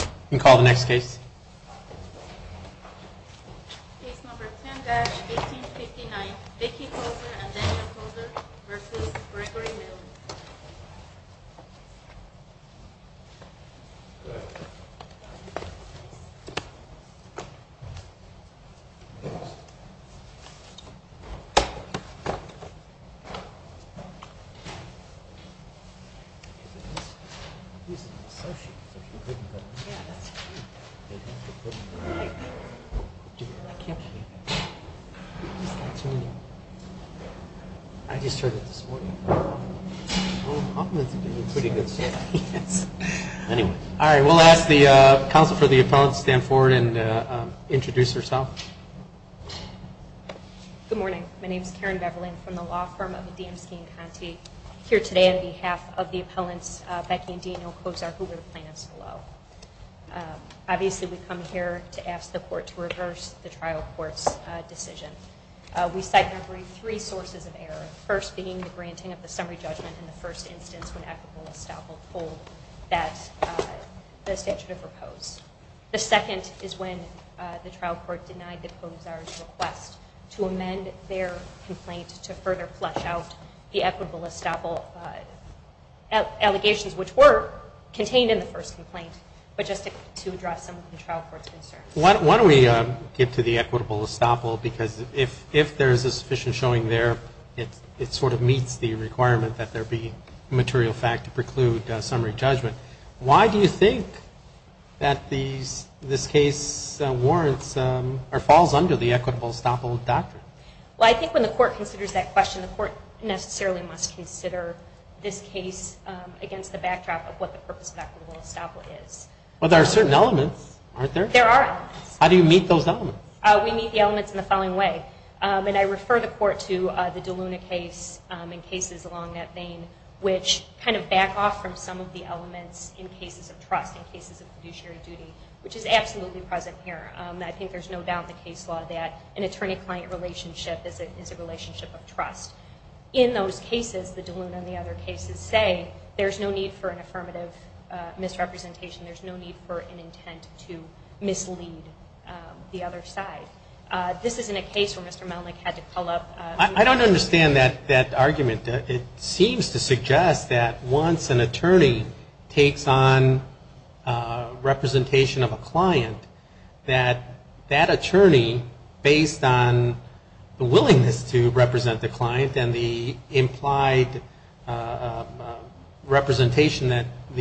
You can call the next case. Case number 10-1859, Vicky Koczor and Daniel Koczor v. Gregory Melnyk. Good morning. My name is Karen Beverly from the law firm of the Damski and Conte here today on behalf of the appellants Vicky and Daniel Koczor, who were the plaintiffs below. Obviously, we come here to ask the court to reverse the trial court's decision. We cite three sources of error, the first being the granting of the summary judgment in the first instance when equitable estoppel pulled the statute of repose. The second is when the trial court denied the Koczor's request to amend their complaint to further flush out the equitable estoppel allegations, which were contained in the first complaint, but just to address some of the trial court's concerns. Why don't we get to the equitable estoppel, because if there is a sufficient showing there, it sort of meets the requirement that there be material fact to preclude summary judgment. Why do you think that this case falls under the equitable estoppel doctrine? Well, I think when the court considers that question, the court necessarily must consider this case against the backdrop of what the purpose of equitable estoppel is. Well, there are certain elements, aren't there? There are elements. How do you meet those elements? We meet the elements in the following way, and I refer the court to the DeLuna case and cases along that vein, which kind of back off from some of the elements in cases of trust, in cases of fiduciary duty, which is absolutely present here. I think there's no doubt in the case law that an attorney-client relationship is a relationship of trust. In those cases, the DeLuna and the other cases, say there's no need for an affirmative misrepresentation. There's no need for an intent to mislead the other side. This isn't a case where Mr. Melnick had to pull up... implied representation that the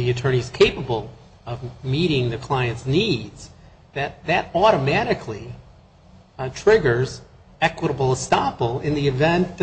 attorney is capable of meeting the client's needs, that that automatically triggers equitable estoppel in the event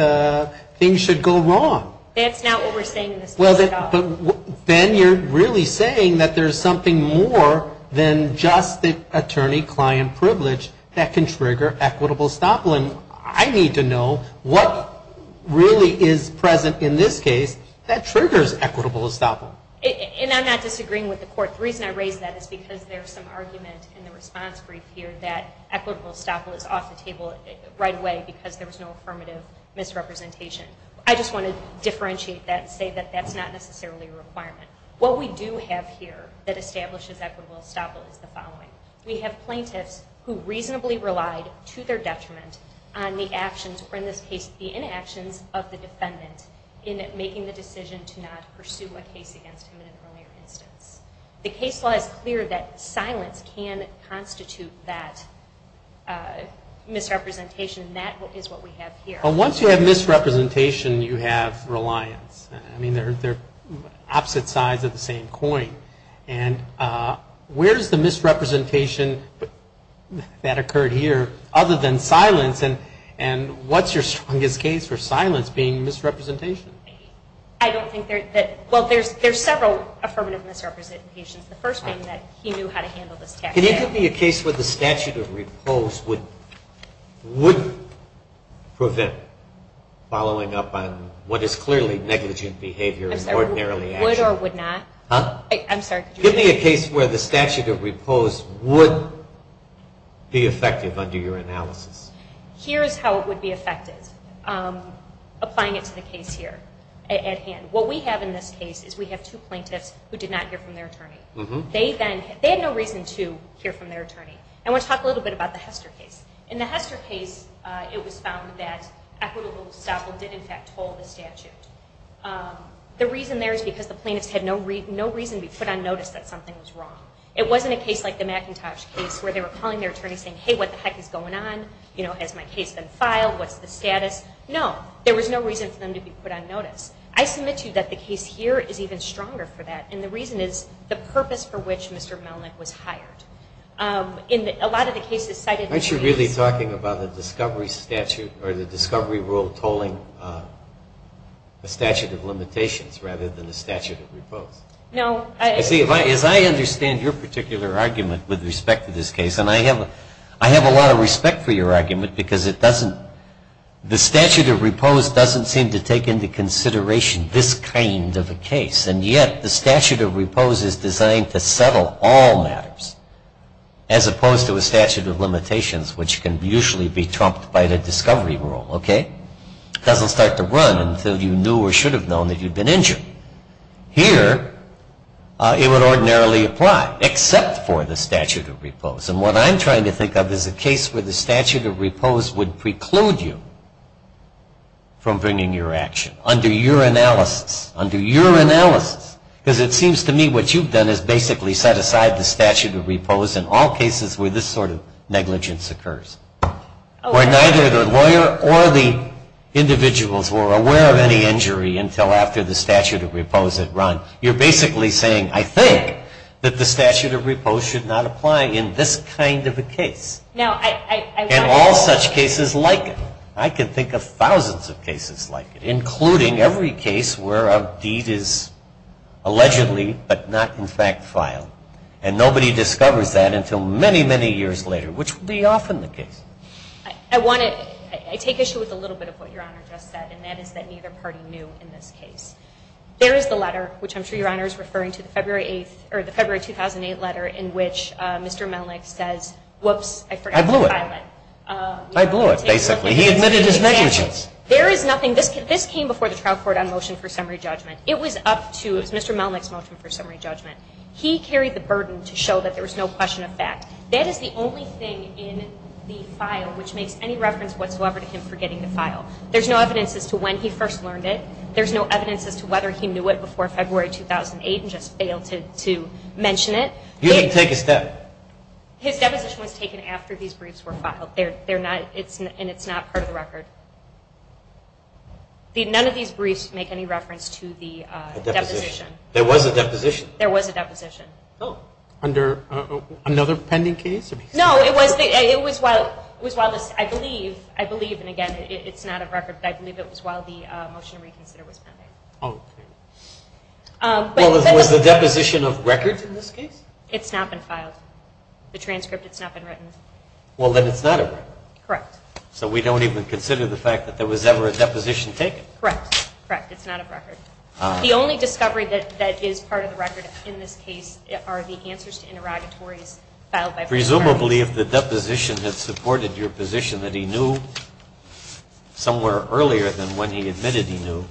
things should go wrong. That's not what we're saying in this case at all. Then you're really saying that there's something more than just the attorney-client privilege that can trigger equitable estoppel. I need to know what really is present in this case that triggers equitable estoppel. And I'm not disagreeing with the court. The reason I raise that is because there's some argument in the response brief here that equitable estoppel is off the table right away because there was no affirmative misrepresentation. I just want to differentiate that and say that that's not necessarily a requirement. What we do have here that establishes equitable estoppel is the following. We have plaintiffs who reasonably relied to their detriment on the actions, or in this case the inactions, of the defendant in making the decision to not pursue a case against him in an earlier instance. The case law is clear that silence can constitute that misrepresentation, and that is what we have here. Once you have misrepresentation, you have reliance. They're opposite sides of the same coin. And where is the misrepresentation that occurred here other than silence, and what's your strongest case for silence being misrepresentation? I don't think there's that. Well, there's several affirmative misrepresentations. The first being that he knew how to handle this tax. Can you give me a case where the statute of repose would prevent following up on what is clearly negligent behavior and ordinarily action? I'm sure it would not. Give me a case where the statute of repose would be effective under your analysis. Here is how it would be effective. Applying it to the case here at hand. What we have in this case is we have two plaintiffs who did not hear from their attorney. They had no reason to hear from their attorney. I want to talk a little bit about the Hester case. In the Hester case, it was found that equitable estoppel did in fact toll the statute. The reason there is because the plaintiffs had no reason to be put on notice that something was wrong. It wasn't a case like the McIntosh case where they were calling their attorney saying, hey, what the heck is going on? Has my case been filed? What's the status? No. There was no reason for them to be put on notice. I submit to you that the case here is even stronger for that, and the reason is the purpose for which Mr. Melnick was hired. In a lot of the cases cited in the case. Aren't you really talking about the discovery statute or the discovery rule tolling a statute of limitations rather than a statute of repose? No. See, as I understand your particular argument with respect to this case, and I have a lot of respect for your argument because it doesn't, the statute of repose doesn't seem to take into consideration this kind of a case, and yet the statute of repose is designed to settle all matters as opposed to a statute of limitations, which can usually be trumped by the discovery rule, okay? It doesn't start to run until you knew or should have known that you'd been injured. Here, it would ordinarily apply except for the statute of repose, and what I'm trying to think of is a case where the statute of repose would preclude you from bringing your action. Under your analysis. Under your analysis. Because it seems to me what you've done is basically set aside the statute of repose in all cases where this sort of negligence occurs. Where neither the lawyer or the individuals were aware of any injury until after the statute of repose had run. You're basically saying, I think that the statute of repose should not apply in this kind of a case. No, I want to. And all such cases like it. I can think of thousands of cases like it, including every case where a deed is allegedly but not in fact filed. And nobody discovers that until many, many years later, which would be often the case. I want to. I take issue with a little bit of what Your Honor just said, and that is that neither party knew in this case. There is the letter, which I'm sure Your Honor is referring to, the February 2008 letter in which Mr. Melnick says, whoops, I forgot to file it. I blew it. He admitted his negligence. There is nothing. This came before the trial court on motion for summary judgment. It was up to Mr. Melnick's motion for summary judgment. He carried the burden to show that there was no question of fact. That is the only thing in the file which makes any reference whatsoever to him forgetting to file. There's no evidence as to when he first learned it. There's no evidence as to whether he knew it before February 2008 and just failed to mention it. You didn't take a step. His deposition was taken after these briefs were filed. And it's not part of the record. None of these briefs make any reference to the deposition. There was a deposition. There was a deposition. Under another pending case? No, it was while this, I believe, and again, it's not a record, but I believe it was while the motion to reconsider was pending. Okay. Was the deposition of records in this case? It's not been filed. The transcript, it's not been written. Well, then it's not a record. Correct. So we don't even consider the fact that there was ever a deposition taken. Correct. Correct. It's not a record. The only discovery that is part of the record in this case are the answers to interrogatories filed by... Presumably, if the deposition had supported your position that he knew somewhere earlier than when he admitted he knew,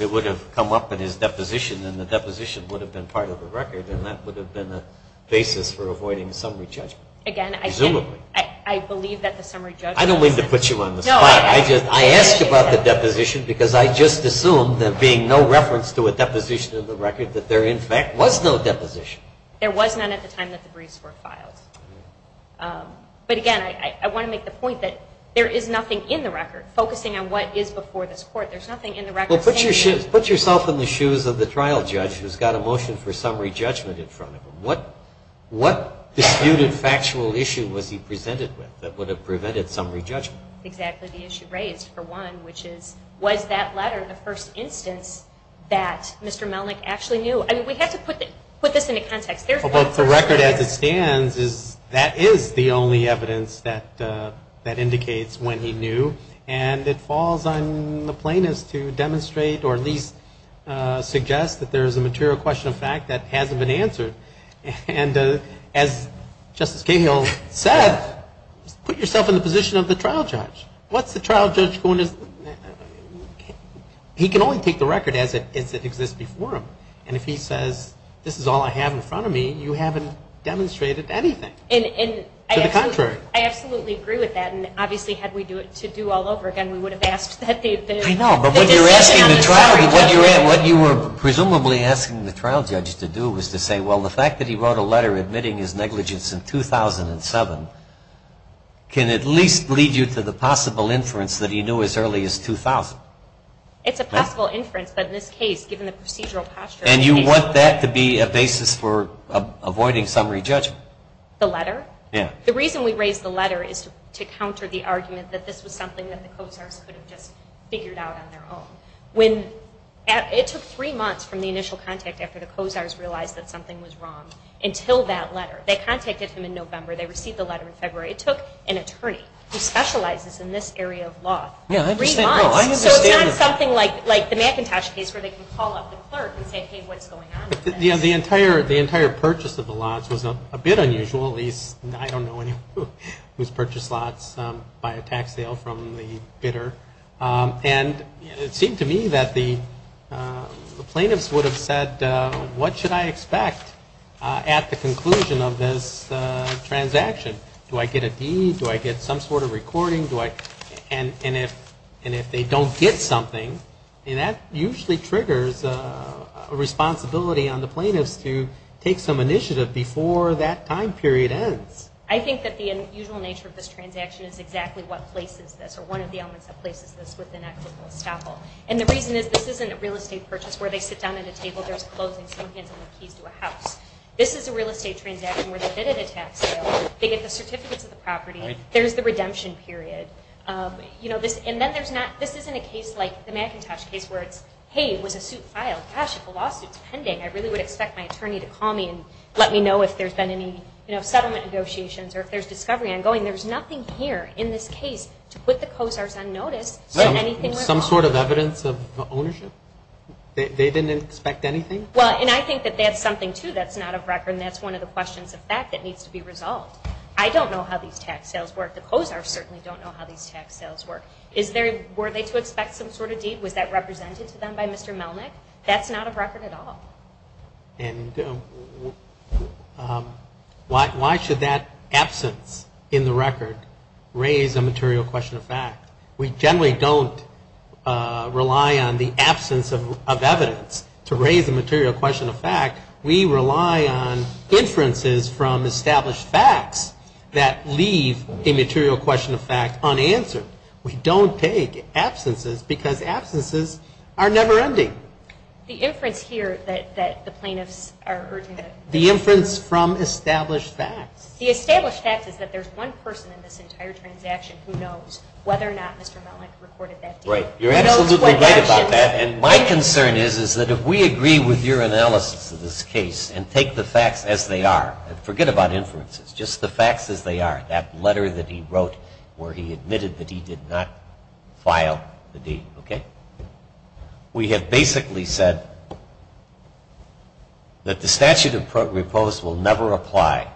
it would have come up in his deposition, and the deposition would have been part of the record, and that would have been a basis for avoiding summary judgment. Again, I... Presumably. I believe that the summary judgment... I don't mean to put you on the spot. No, I... I asked about the deposition because I just assumed that being no reference to a deposition in the record, that there, in fact, was no deposition. There was none at the time that the briefs were filed. But again, I want to make the point that there is nothing in the record focusing on what is before this Court. There's nothing in the record... Well, put yourself in the shoes of the trial judge who's got a motion for summary judgment in front of him. What disputed factual issue was he presented with that would have prevented summary judgment? Exactly the issue raised, for one, which is, was that letter the first instance that Mr. Melnick actually knew? I mean, we have to put this into context. The record as it stands, that is the only evidence that indicates when he knew, and it falls on the plaintiffs to demonstrate or at least suggest that there is a material question of fact that hasn't been answered. And as Justice Cahill said, put yourself in the position of the trial judge. What's the trial judge going to... He can only take the record as it exists before him. And if he says, this is all I have in front of me, you haven't demonstrated anything. To the contrary. I absolutely agree with that. And obviously, had we to do all over again, we would have asked that they... I know, but when you're asking the trial... The decision on the summary judgment. What you were presumably asking the trial judge to do was to say, well, the fact that he wrote a letter admitting his negligence in 2007 can at least lead you to the possible inference that he knew as early as 2000. It's a possible inference, but in this case, given the procedural posture... And you want that to be a basis for avoiding summary judgment. The letter? Yeah. The reason we raised the letter is to counter the argument that this was something that the Cozars could have just figured out on their own. It took three months from the initial contact after the Cozars realized that something was wrong until that letter. They contacted him in November. They received the letter in February. It took an attorney who specializes in this area of law three months. Yeah, I understand. So it's not something like the McIntosh case where they can call up the clerk and say, hey, what's going on with this? The entire purchase of the lots was a bit unusual. I don't know anyone who's purchased lots by a tax sale from the bidder. And it seemed to me that the plaintiffs would have said, what should I expect at the conclusion of this transaction? Do I get a deed? Do I get some sort of recording? And if they don't get something, that usually triggers a responsibility on the plaintiffs to take some initiative before that time period ends. I think that the unusual nature of this transaction is exactly what places this or one of the elements that places this within equitable estoppel. And the reason is this isn't a real estate purchase where they sit down at a table, there's clothing, some hands on the keys to a house. This is a real estate transaction where they bid at a tax sale. They get the certificates of the property. There's the redemption period. And then this isn't a case like the McIntosh case where it's, hey, it was a suit filed. Gosh, if a lawsuit's pending, I really would expect my attorney to call me and let me know if there's been any settlement negotiations or if there's discovery ongoing. There's nothing here in this case to put the COSARs on notice that anything went wrong. Some sort of evidence of ownership? They didn't expect anything? Well, and I think that that's something, too, that's not of record and that's one of the questions of fact that needs to be resolved. I don't know how these tax sales work. The COSARs certainly don't know how these tax sales work. Were they to expect some sort of deed? Was that represented to them by Mr. Melnick? That's not of record at all. And why should that absence in the record raise a material question of fact? We generally don't rely on the absence of evidence to raise a material question of fact. We rely on inferences from established facts that leave a material question of fact unanswered. We don't take absences because absences are never-ending. The inference here that the plaintiffs are urging that the insurance… The inference from established facts. The established facts is that there's one person in this entire transaction who knows whether or not Mr. Melnick recorded that deed. Right. Who knows what actions… My concern is that if we agree with your analysis of this case and take the facts as they are, forget about inferences, just the facts as they are, that letter that he wrote where he admitted that he did not file the deed, okay? We have basically said that the statute of repose will never apply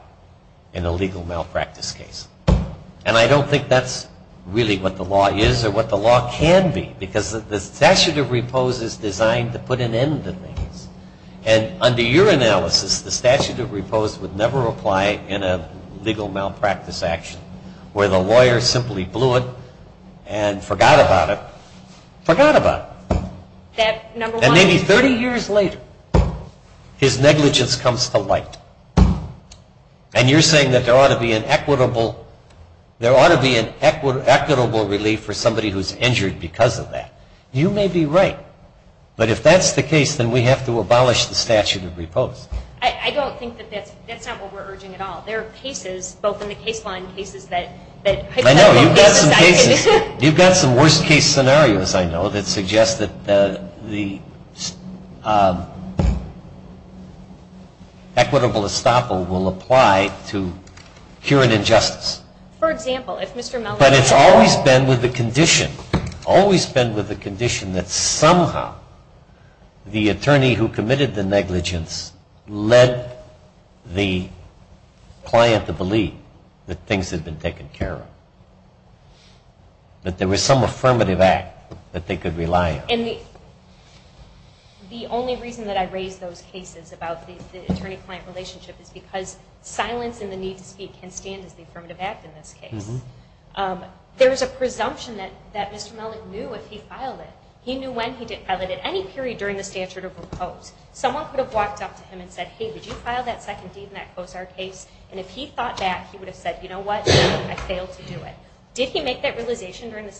in a legal malpractice case. And I don't think that's really what the law is or what the law can be, because the statute of repose is designed to put an end to things. And under your analysis, the statute of repose would never apply in a legal malpractice action where the lawyer simply blew it and forgot about it. Forgot about it. And maybe 30 years later, his negligence comes to light. And you're saying that there ought to be an equitable relief for somebody who's injured because of that. You may be right. But if that's the case, then we have to abolish the statute of repose. I don't think that's what we're urging at all. There are cases, both in the case law and cases that hypothetical cases… You've got some worst case scenarios, I know, that suggest that the equitable estoppel will apply to cure an injustice. For example, if Mr. Mellon… But it's always been with the condition, always been with the condition that somehow the attorney who committed the negligence led the client to believe that things had been taken care of, that there was some affirmative act that they could rely on. And the only reason that I raise those cases about the attorney-client relationship is because silence and the need to speak can stand as the affirmative act in this case. There is a presumption that Mr. Mellon knew if he filed it. He knew when he filed it at any period during the statute of repose. Someone could have walked up to him and said, hey, did you file that second deed in that COSAR case? And if he thought that, he would have said, you know what, I failed to do it. Did he make that realization during the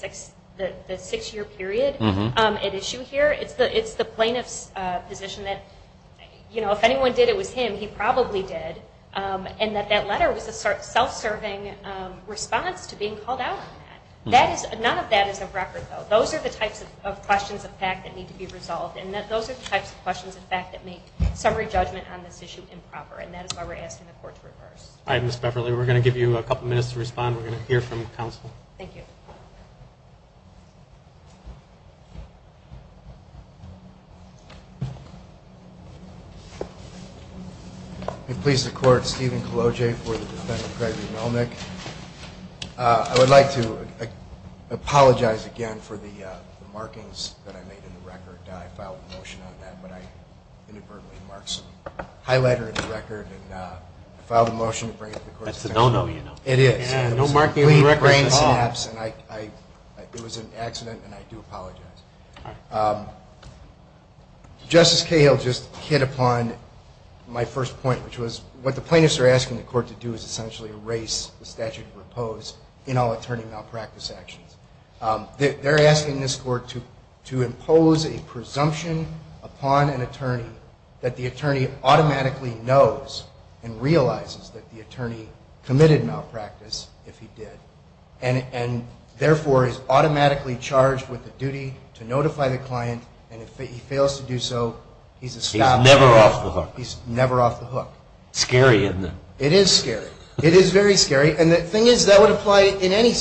six-year period at issue here? It's the plaintiff's position that if anyone did, it was him. He probably did. And that that letter was a self-serving response to being called out on that. None of that is a record, though. Those are the types of questions of fact that need to be resolved. And those are the types of questions of fact that make summary judgment on this issue improper. And that is why we're asking the court to reverse. All right, Ms. Beverly, we're going to give you a couple minutes to respond. We're going to hear from counsel. Thank you. May it please the Court, Stephen Cologe for the defense of Gregory Melnick. I would like to apologize again for the markings that I made in the record. I filed a motion on that, but I inadvertently marked some highlighter in the record. And I filed a motion to bring it to the Court of Appeals. That's a no-no, you know. It is. No markings on the record at all. It was a complete brain synapse, and it was an accident, and I do apologize. Justice Cahill just hit upon my first point, which was what the plaintiffs are asking the court to do is essentially erase the statute of repose in all attorney malpractice actions. They're asking this court to impose a presumption upon an attorney that the attorney automatically knows and realizes that the attorney committed malpractice if he did, and therefore is automatically charged with the duty to notify the client, and if he fails to do so, he's established. He's never off the hook. He's never off the hook. It's scary, isn't it? It is scary. It is very scary. And the thing is, that would apply in any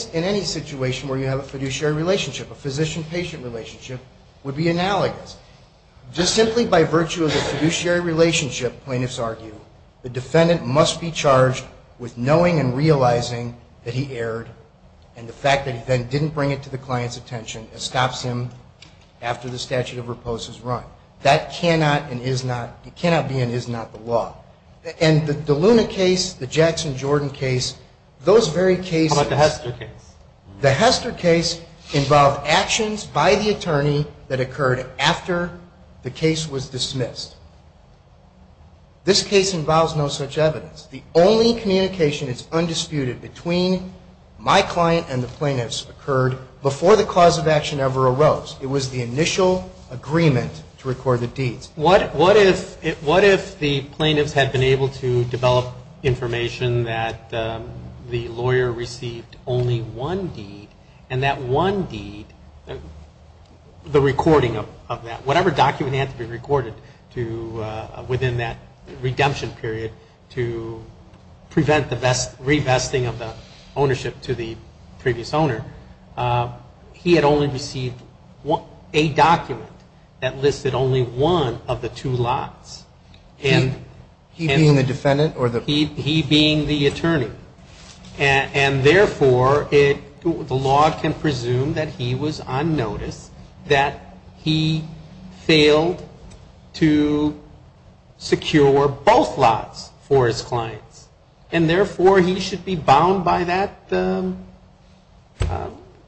situation where you have a fiduciary relationship. A physician-patient relationship would be analogous. Just simply by virtue of the fiduciary relationship, plaintiffs argue, the defendant must be charged with knowing and realizing that he erred, and the fact that he then didn't bring it to the client's attention stops him after the statute of repose is run. That cannot and is not the law. And the DeLuna case, the Jackson-Jordan case, those very cases. How about the Hester case? The Hester case involved actions by the attorney that occurred after the case was dismissed. This case involves no such evidence. The only communication is undisputed between my client and the plaintiff's occurred before the cause of action ever arose. It was the initial agreement to record the deeds. What if the plaintiffs had been able to develop information that the lawyer received only one deed, and that one deed, the recording of that, whatever document had to be recorded within that redemption period to prevent the revesting of the ownership to the previous owner, he had only received a document that listed only one of the two lots. He being the defendant or the? He being the attorney. And therefore, the law can presume that he was on notice that he failed to secure both lots for his clients. And therefore, he should be bound by that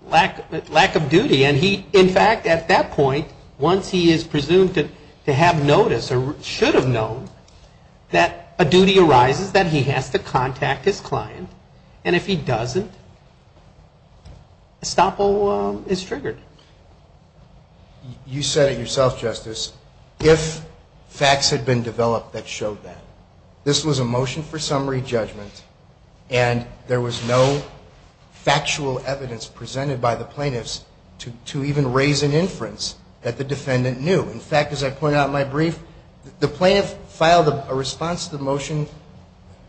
lack of duty. And he, in fact, at that point, once he is presumed to have notice or should have known that a duty arises, that he has to contact his client. And if he doesn't, estoppel is triggered. You said it yourself, Justice. If facts had been developed that showed that. This was a motion for summary judgment, and there was no factual evidence presented by the plaintiffs to even raise an inference that the defendant knew. In fact, as I pointed out in my brief, the plaintiff filed a response to the motion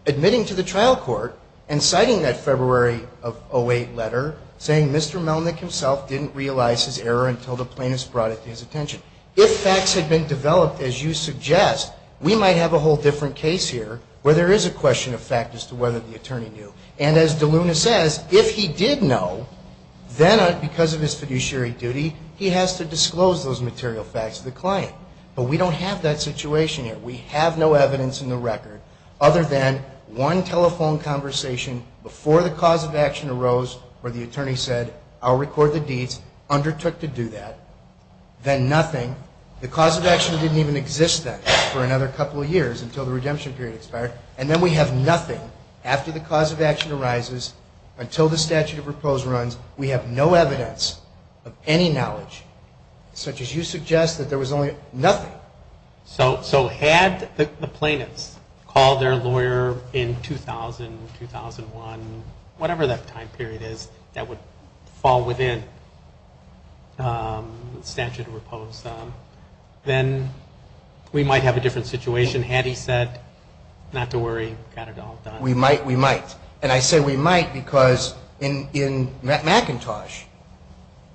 admitting to the trial court and citing that February of 08 letter, saying Mr. Melnick himself didn't realize his error until the plaintiffs brought it to his attention. If facts had been developed, as you suggest, we might have a whole different case here where there is a question of fact as to whether the attorney knew. And as DeLuna says, if he did know, then because of his fiduciary duty, he has to disclose those material facts to the client. But we don't have that situation here. We have no evidence in the record other than one telephone conversation before the cause of action arose where the attorney said, I'll record the deeds, undertook to do that, then nothing. The cause of action didn't even exist then for another couple of years until the redemption period expired. And then we have nothing after the cause of action arises until the statute of repose runs. We have no evidence of any knowledge, such as you suggest, that there was only nothing. So had the plaintiffs called their lawyer in 2000, 2001, whatever that time period is that would fall within the statute of repose, then we might have a different situation. Had he said not to worry, got it all done. We might. And I say we might because in McIntosh,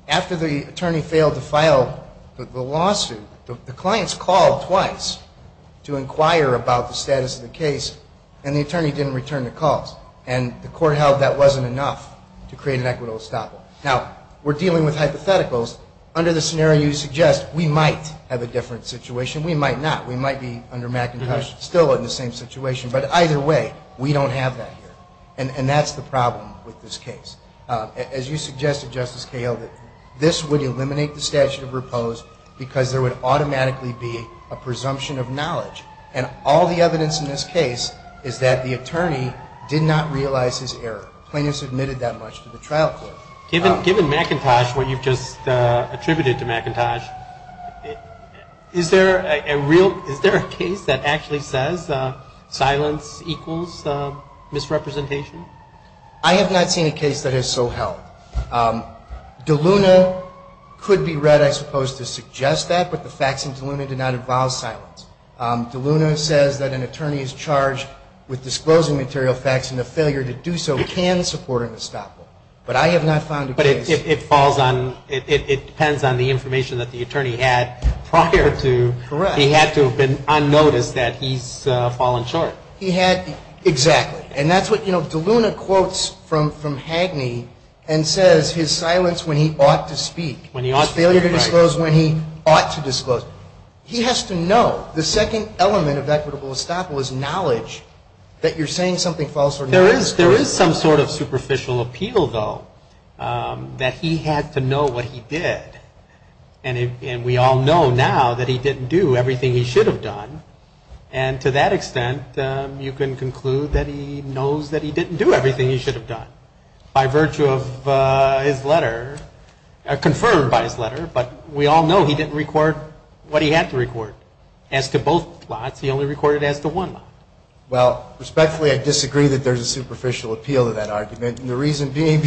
after the attorney failed to file the lawsuit, the clients called twice to inquire about the status of the case, and the attorney didn't return the calls. And the court held that wasn't enough to create an equitable estoppel. Now, we're dealing with hypotheticals. Under the scenario you suggest, we might have a different situation. We might not. We might be under McIntosh still in the same situation. But either way, we don't have that here. And that's the problem with this case. As you suggested, Justice Cahill, that this would eliminate the statute of repose because there would automatically be a presumption of knowledge. And all the evidence in this case is that the attorney did not realize his error. The plaintiff submitted that much to the trial court. Given McIntosh, what you've just attributed to McIntosh, is there a case that actually says silence equals misrepresentation? I have not seen a case that has so held. DeLuna could be read, I suppose, to suggest that, but the facts in DeLuna do not involve silence. DeLuna says that an attorney is charged with disclosing material facts, and the failure to do so can support an estoppel. But I have not found a case. But it falls on, it depends on the information that the attorney had prior to. Correct. He had to have been unnoticed that he's fallen short. He had, exactly. And that's what, you know, DeLuna quotes from Hagney and says his silence when he ought to speak. When he ought to speak, right. His failure to disclose when he ought to disclose. He has to know. The second element of equitable estoppel is knowledge that you're saying something false or not. There is some sort of superficial appeal, though, that he had to know what he did. And we all know now that he didn't do everything he should have done. And to that extent, you can conclude that he knows that he didn't do everything he should have done. By virtue of his letter, confirmed by his letter, but we all know he didn't record what he had to record. As to both lots, he only recorded as to one lot. Well, respectfully, I disagree that there's a superficial appeal to that argument. And the reason being,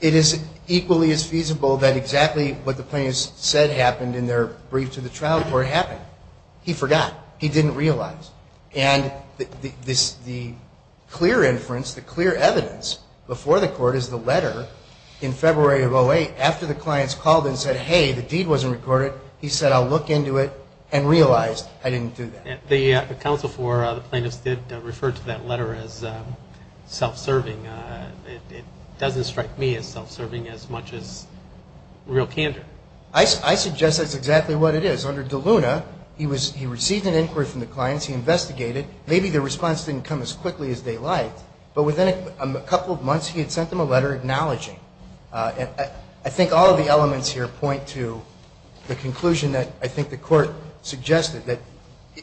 it is equally as feasible that exactly what the plaintiffs said happened in their brief to the trial court happened. He forgot. He didn't realize. And the clear inference, the clear evidence before the court is the letter in February of 08 after the clients called and said, hey, the deed wasn't recorded. He said, I'll look into it and realized I didn't do that. The counsel for the plaintiffs did refer to that letter as self-serving. It doesn't strike me as self-serving as much as real candor. I suggest that's exactly what it is. Under DeLuna, he received an inquiry from the clients. He investigated. Maybe the response didn't come as quickly as they liked. But within a couple of months, he had sent them a letter acknowledging. And I think all of the elements here point to the conclusion that I think the court suggested, that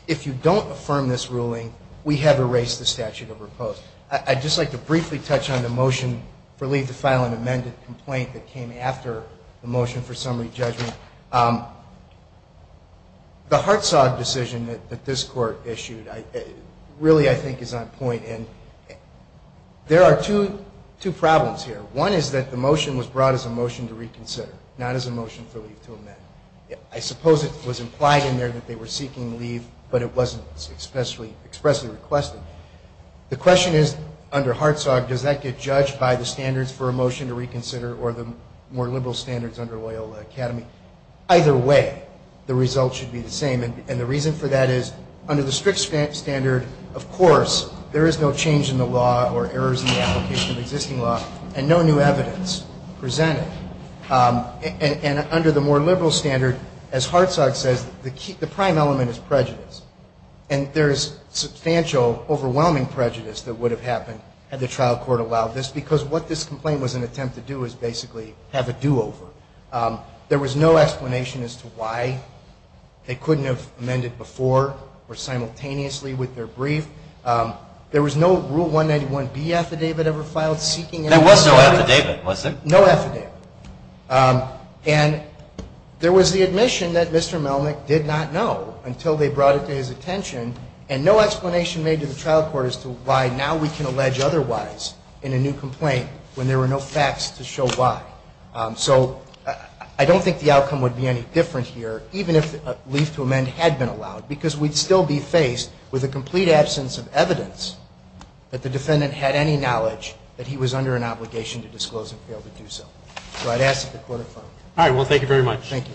if you don't affirm this ruling, we have erased the statute of repose. I'd just like to briefly touch on the motion for leave to file an amended complaint that came after the motion for summary judgment. The Hartzog decision that this court issued really, I think, is on point. And there are two problems here. One is that the motion was brought as a motion to reconsider, not as a motion for leave to amend. I suppose it was implied in there that they were seeking leave, but it wasn't expressly requested. The question is, under Hartzog, does that get judged by the standards for a motion to reconsider or the more liberal standards under Loyola Academy? Either way, the result should be the same. And the reason for that is, under the strict standard, of course, there is no change in the law or errors in the application of existing law and no new evidence presented. And under the more liberal standard, as Hartzog says, the prime element is prejudice. And there is substantial, overwhelming prejudice that would have happened had the trial court allowed this because what this complaint was an attempt to do is basically have a do-over. There was no explanation as to why they couldn't have amended before or simultaneously with their brief. There was no Rule 191B affidavit ever filed seeking an amendment. There was no affidavit, was there? No affidavit. And there was the admission that Mr. Melnick did not know until they brought it to his attention, and no explanation made to the trial court as to why now we can allege otherwise in a new complaint when there were no facts to show why. So I don't think the outcome would be any different here, even if a leave to amend had been allowed, because we'd still be faced with a complete absence of evidence that the defendant had any knowledge that he was under an obligation to disclose and fail to do so. So I'd ask that the Court affirm. All right. Well, thank you very much. Thank you.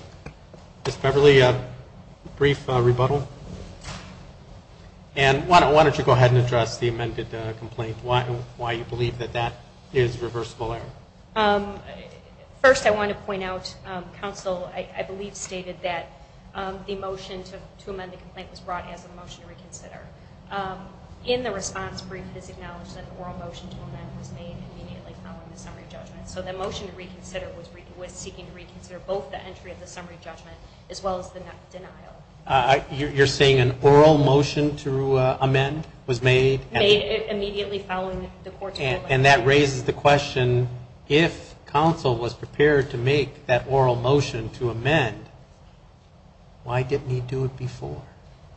Ms. Beverly, a brief rebuttal? And why don't you go ahead and address the amended complaint, why you believe that that is reversible error? First, I want to point out counsel, I believe, stated that the motion to amend the complaint was brought as a motion to reconsider. In the response brief, it is acknowledged that an oral motion to amend was made immediately following the summary judgment. So the motion to reconsider was seeking to reconsider both the entry of the summary judgment as well as the denial. You're saying an oral motion to amend was made? Made immediately following the court's ruling. And that raises the question, if counsel was prepared to make that oral motion to amend, why didn't he do it before?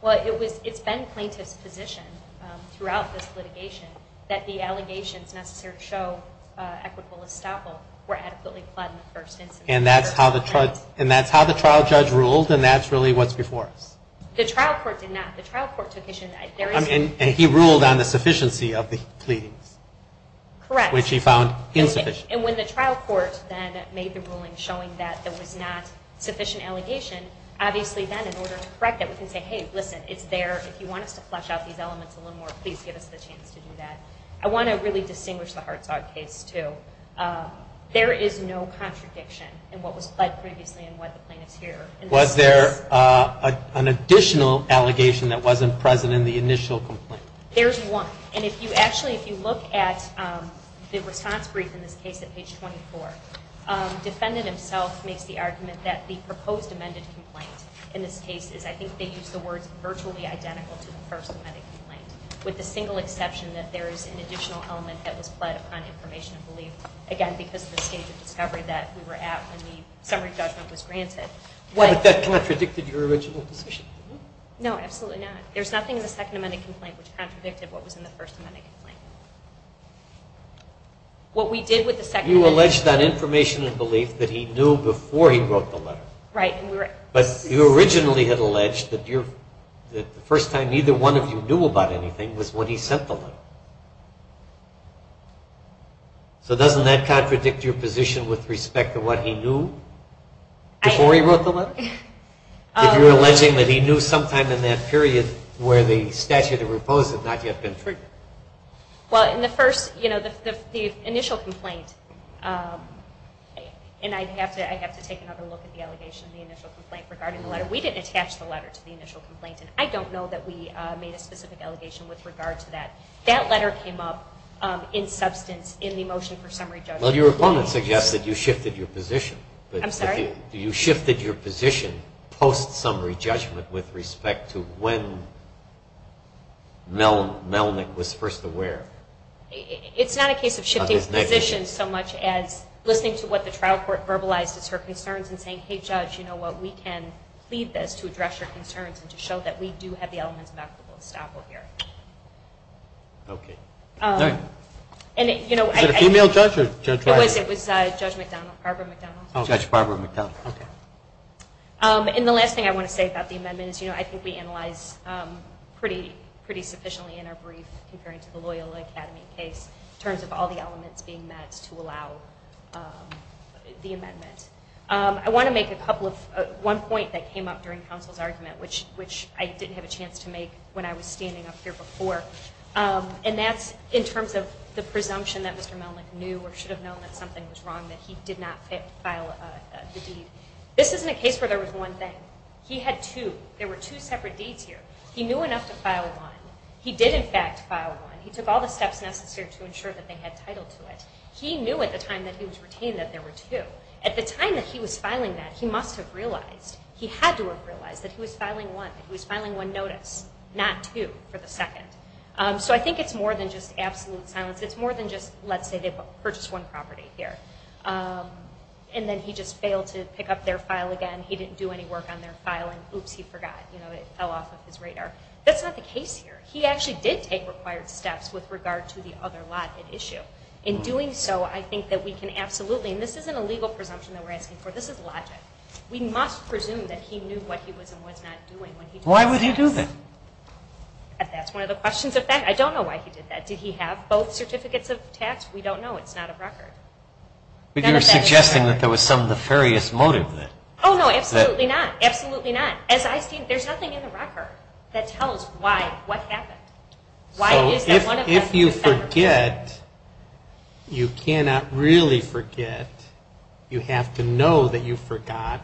Well, it's been plaintiff's position throughout this litigation that the allegations necessary to show equitable estoppel were adequately applied in the first instance. And that's how the trial judge ruled, and that's really what's before us? The trial court did not. The trial court took issue. And he ruled on the sufficiency of the pleadings? Correct. Which he found insufficient. And when the trial court then made the ruling showing that there was not sufficient allegation, obviously then in order to correct it, we can say, hey, listen, it's there. If you want us to flesh out these elements a little more, please give us the chance to do that. I want to really distinguish the Hartzog case, too. There is no contradiction in what was pled previously and why the plaintiff's here. Was there an additional allegation that wasn't present in the initial complaint? There's one. And if you actually, if you look at the response brief in this case at page 24, defendant himself makes the argument that the proposed amended complaint in this case is, I think they used the words, virtually identical to the first amended complaint, with the single exception that there is an additional element that was pled upon information of belief, again, because of the stage of discovery that we were at when the summary judgment was granted. But that contradicted your original decision? No, absolutely not. There's nothing in the second amended complaint which contradicted what was in the first amended complaint. What we did with the second amendment. You alleged on information of belief that he knew before he wrote the letter. Right. But you originally had alleged that the first time neither one of you knew about anything was when he sent the letter. So doesn't that contradict your position with respect to what he knew before he wrote the letter? If you're alleging that he knew sometime in that period where the statute of repose had not yet been triggered. Well, in the first, you know, the initial complaint, and I'd have to take another look at the allegation of the initial complaint regarding the letter. We didn't attach the letter to the initial complaint, and I don't know that we made a specific allegation with regard to that. That letter came up in substance in the motion for summary judgment. Well, your opponent suggests that you shifted your position. I'm sorry? You shifted your position post-summary judgment with respect to when Melnick was first aware of his negligence. It's not a case of shifting positions so much as listening to what the trial court verbalized as her concerns and saying, hey, judge, you know what, we can plead this to address your concerns and to show that we do have the elements of equitable estoppel here. Okay. Is it a female judge or a judge- It was Judge Barbara McDonald. Oh, Judge Barbara McDonald, okay. And the last thing I want to say about the amendment is, you know, I think we analyzed pretty sufficiently in our brief comparing to the Loyola Academy case in terms of all the elements being met to allow the amendment. I want to make one point that came up during counsel's argument, which I didn't have a chance to make when I was standing up here before, and that's in terms of the presumption that Mr. Melnick knew or should have known that something was wrong, that he did not file the deed. This isn't a case where there was one thing. He had two. There were two separate deeds here. He knew enough to file one. He did, in fact, file one. He took all the steps necessary to ensure that they had title to it. He knew at the time that he was retained that there were two. At the time that he was filing that, he must have realized, he had to have realized, that he was filing one, that he was filing one notice, not two for the second. So I think it's more than just absolute silence. It's more than just let's say they purchased one property here, and then he just failed to pick up their file again. He didn't do any work on their file, and oops, he forgot. It fell off of his radar. That's not the case here. He actually did take required steps with regard to the other lot at issue. In doing so, I think that we can absolutely, and this isn't a legal presumption that we're asking for. This is logic. We must presume that he knew what he was and was not doing. Why would he do that? That's one of the questions. In fact, I don't know why he did that. Did he have both certificates of tax? We don't know. It's not a record. But you're suggesting that there was some nefarious motive. Oh, no. Absolutely not. Absolutely not. As I see it, there's nothing in the record that tells why, what happened. So if you forget, you cannot really forget. You have to know that you forgot,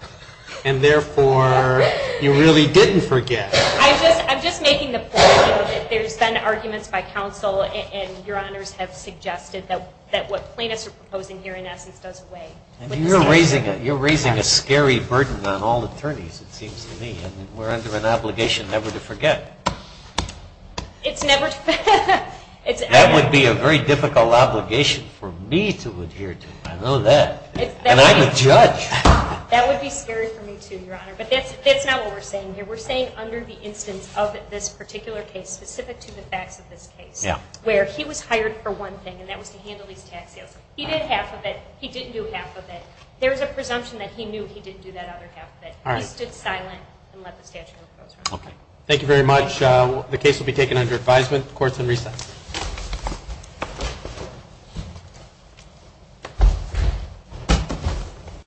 and therefore, you really didn't forget. I'm just making the point that there's been arguments by counsel, and Your Honors have suggested that what plaintiffs are proposing here, in essence, does away with the statute. You're raising a scary burden on all attorneys, it seems to me. We're under an obligation never to forget. That would be a very difficult obligation for me to adhere to. I know that. And I'm a judge. That would be scary for me, too, Your Honor. But that's not what we're saying here. We're saying under the instance of this particular case, specific to the facts of this case, where he was hired for one thing, and that was to handle these tax sales. He did half of it. He didn't do half of it. There's a presumption that he knew he didn't do that other half of it. He stood silent and let the statute go. Thank you very much. The case will be taken under advisement. Court is in recess.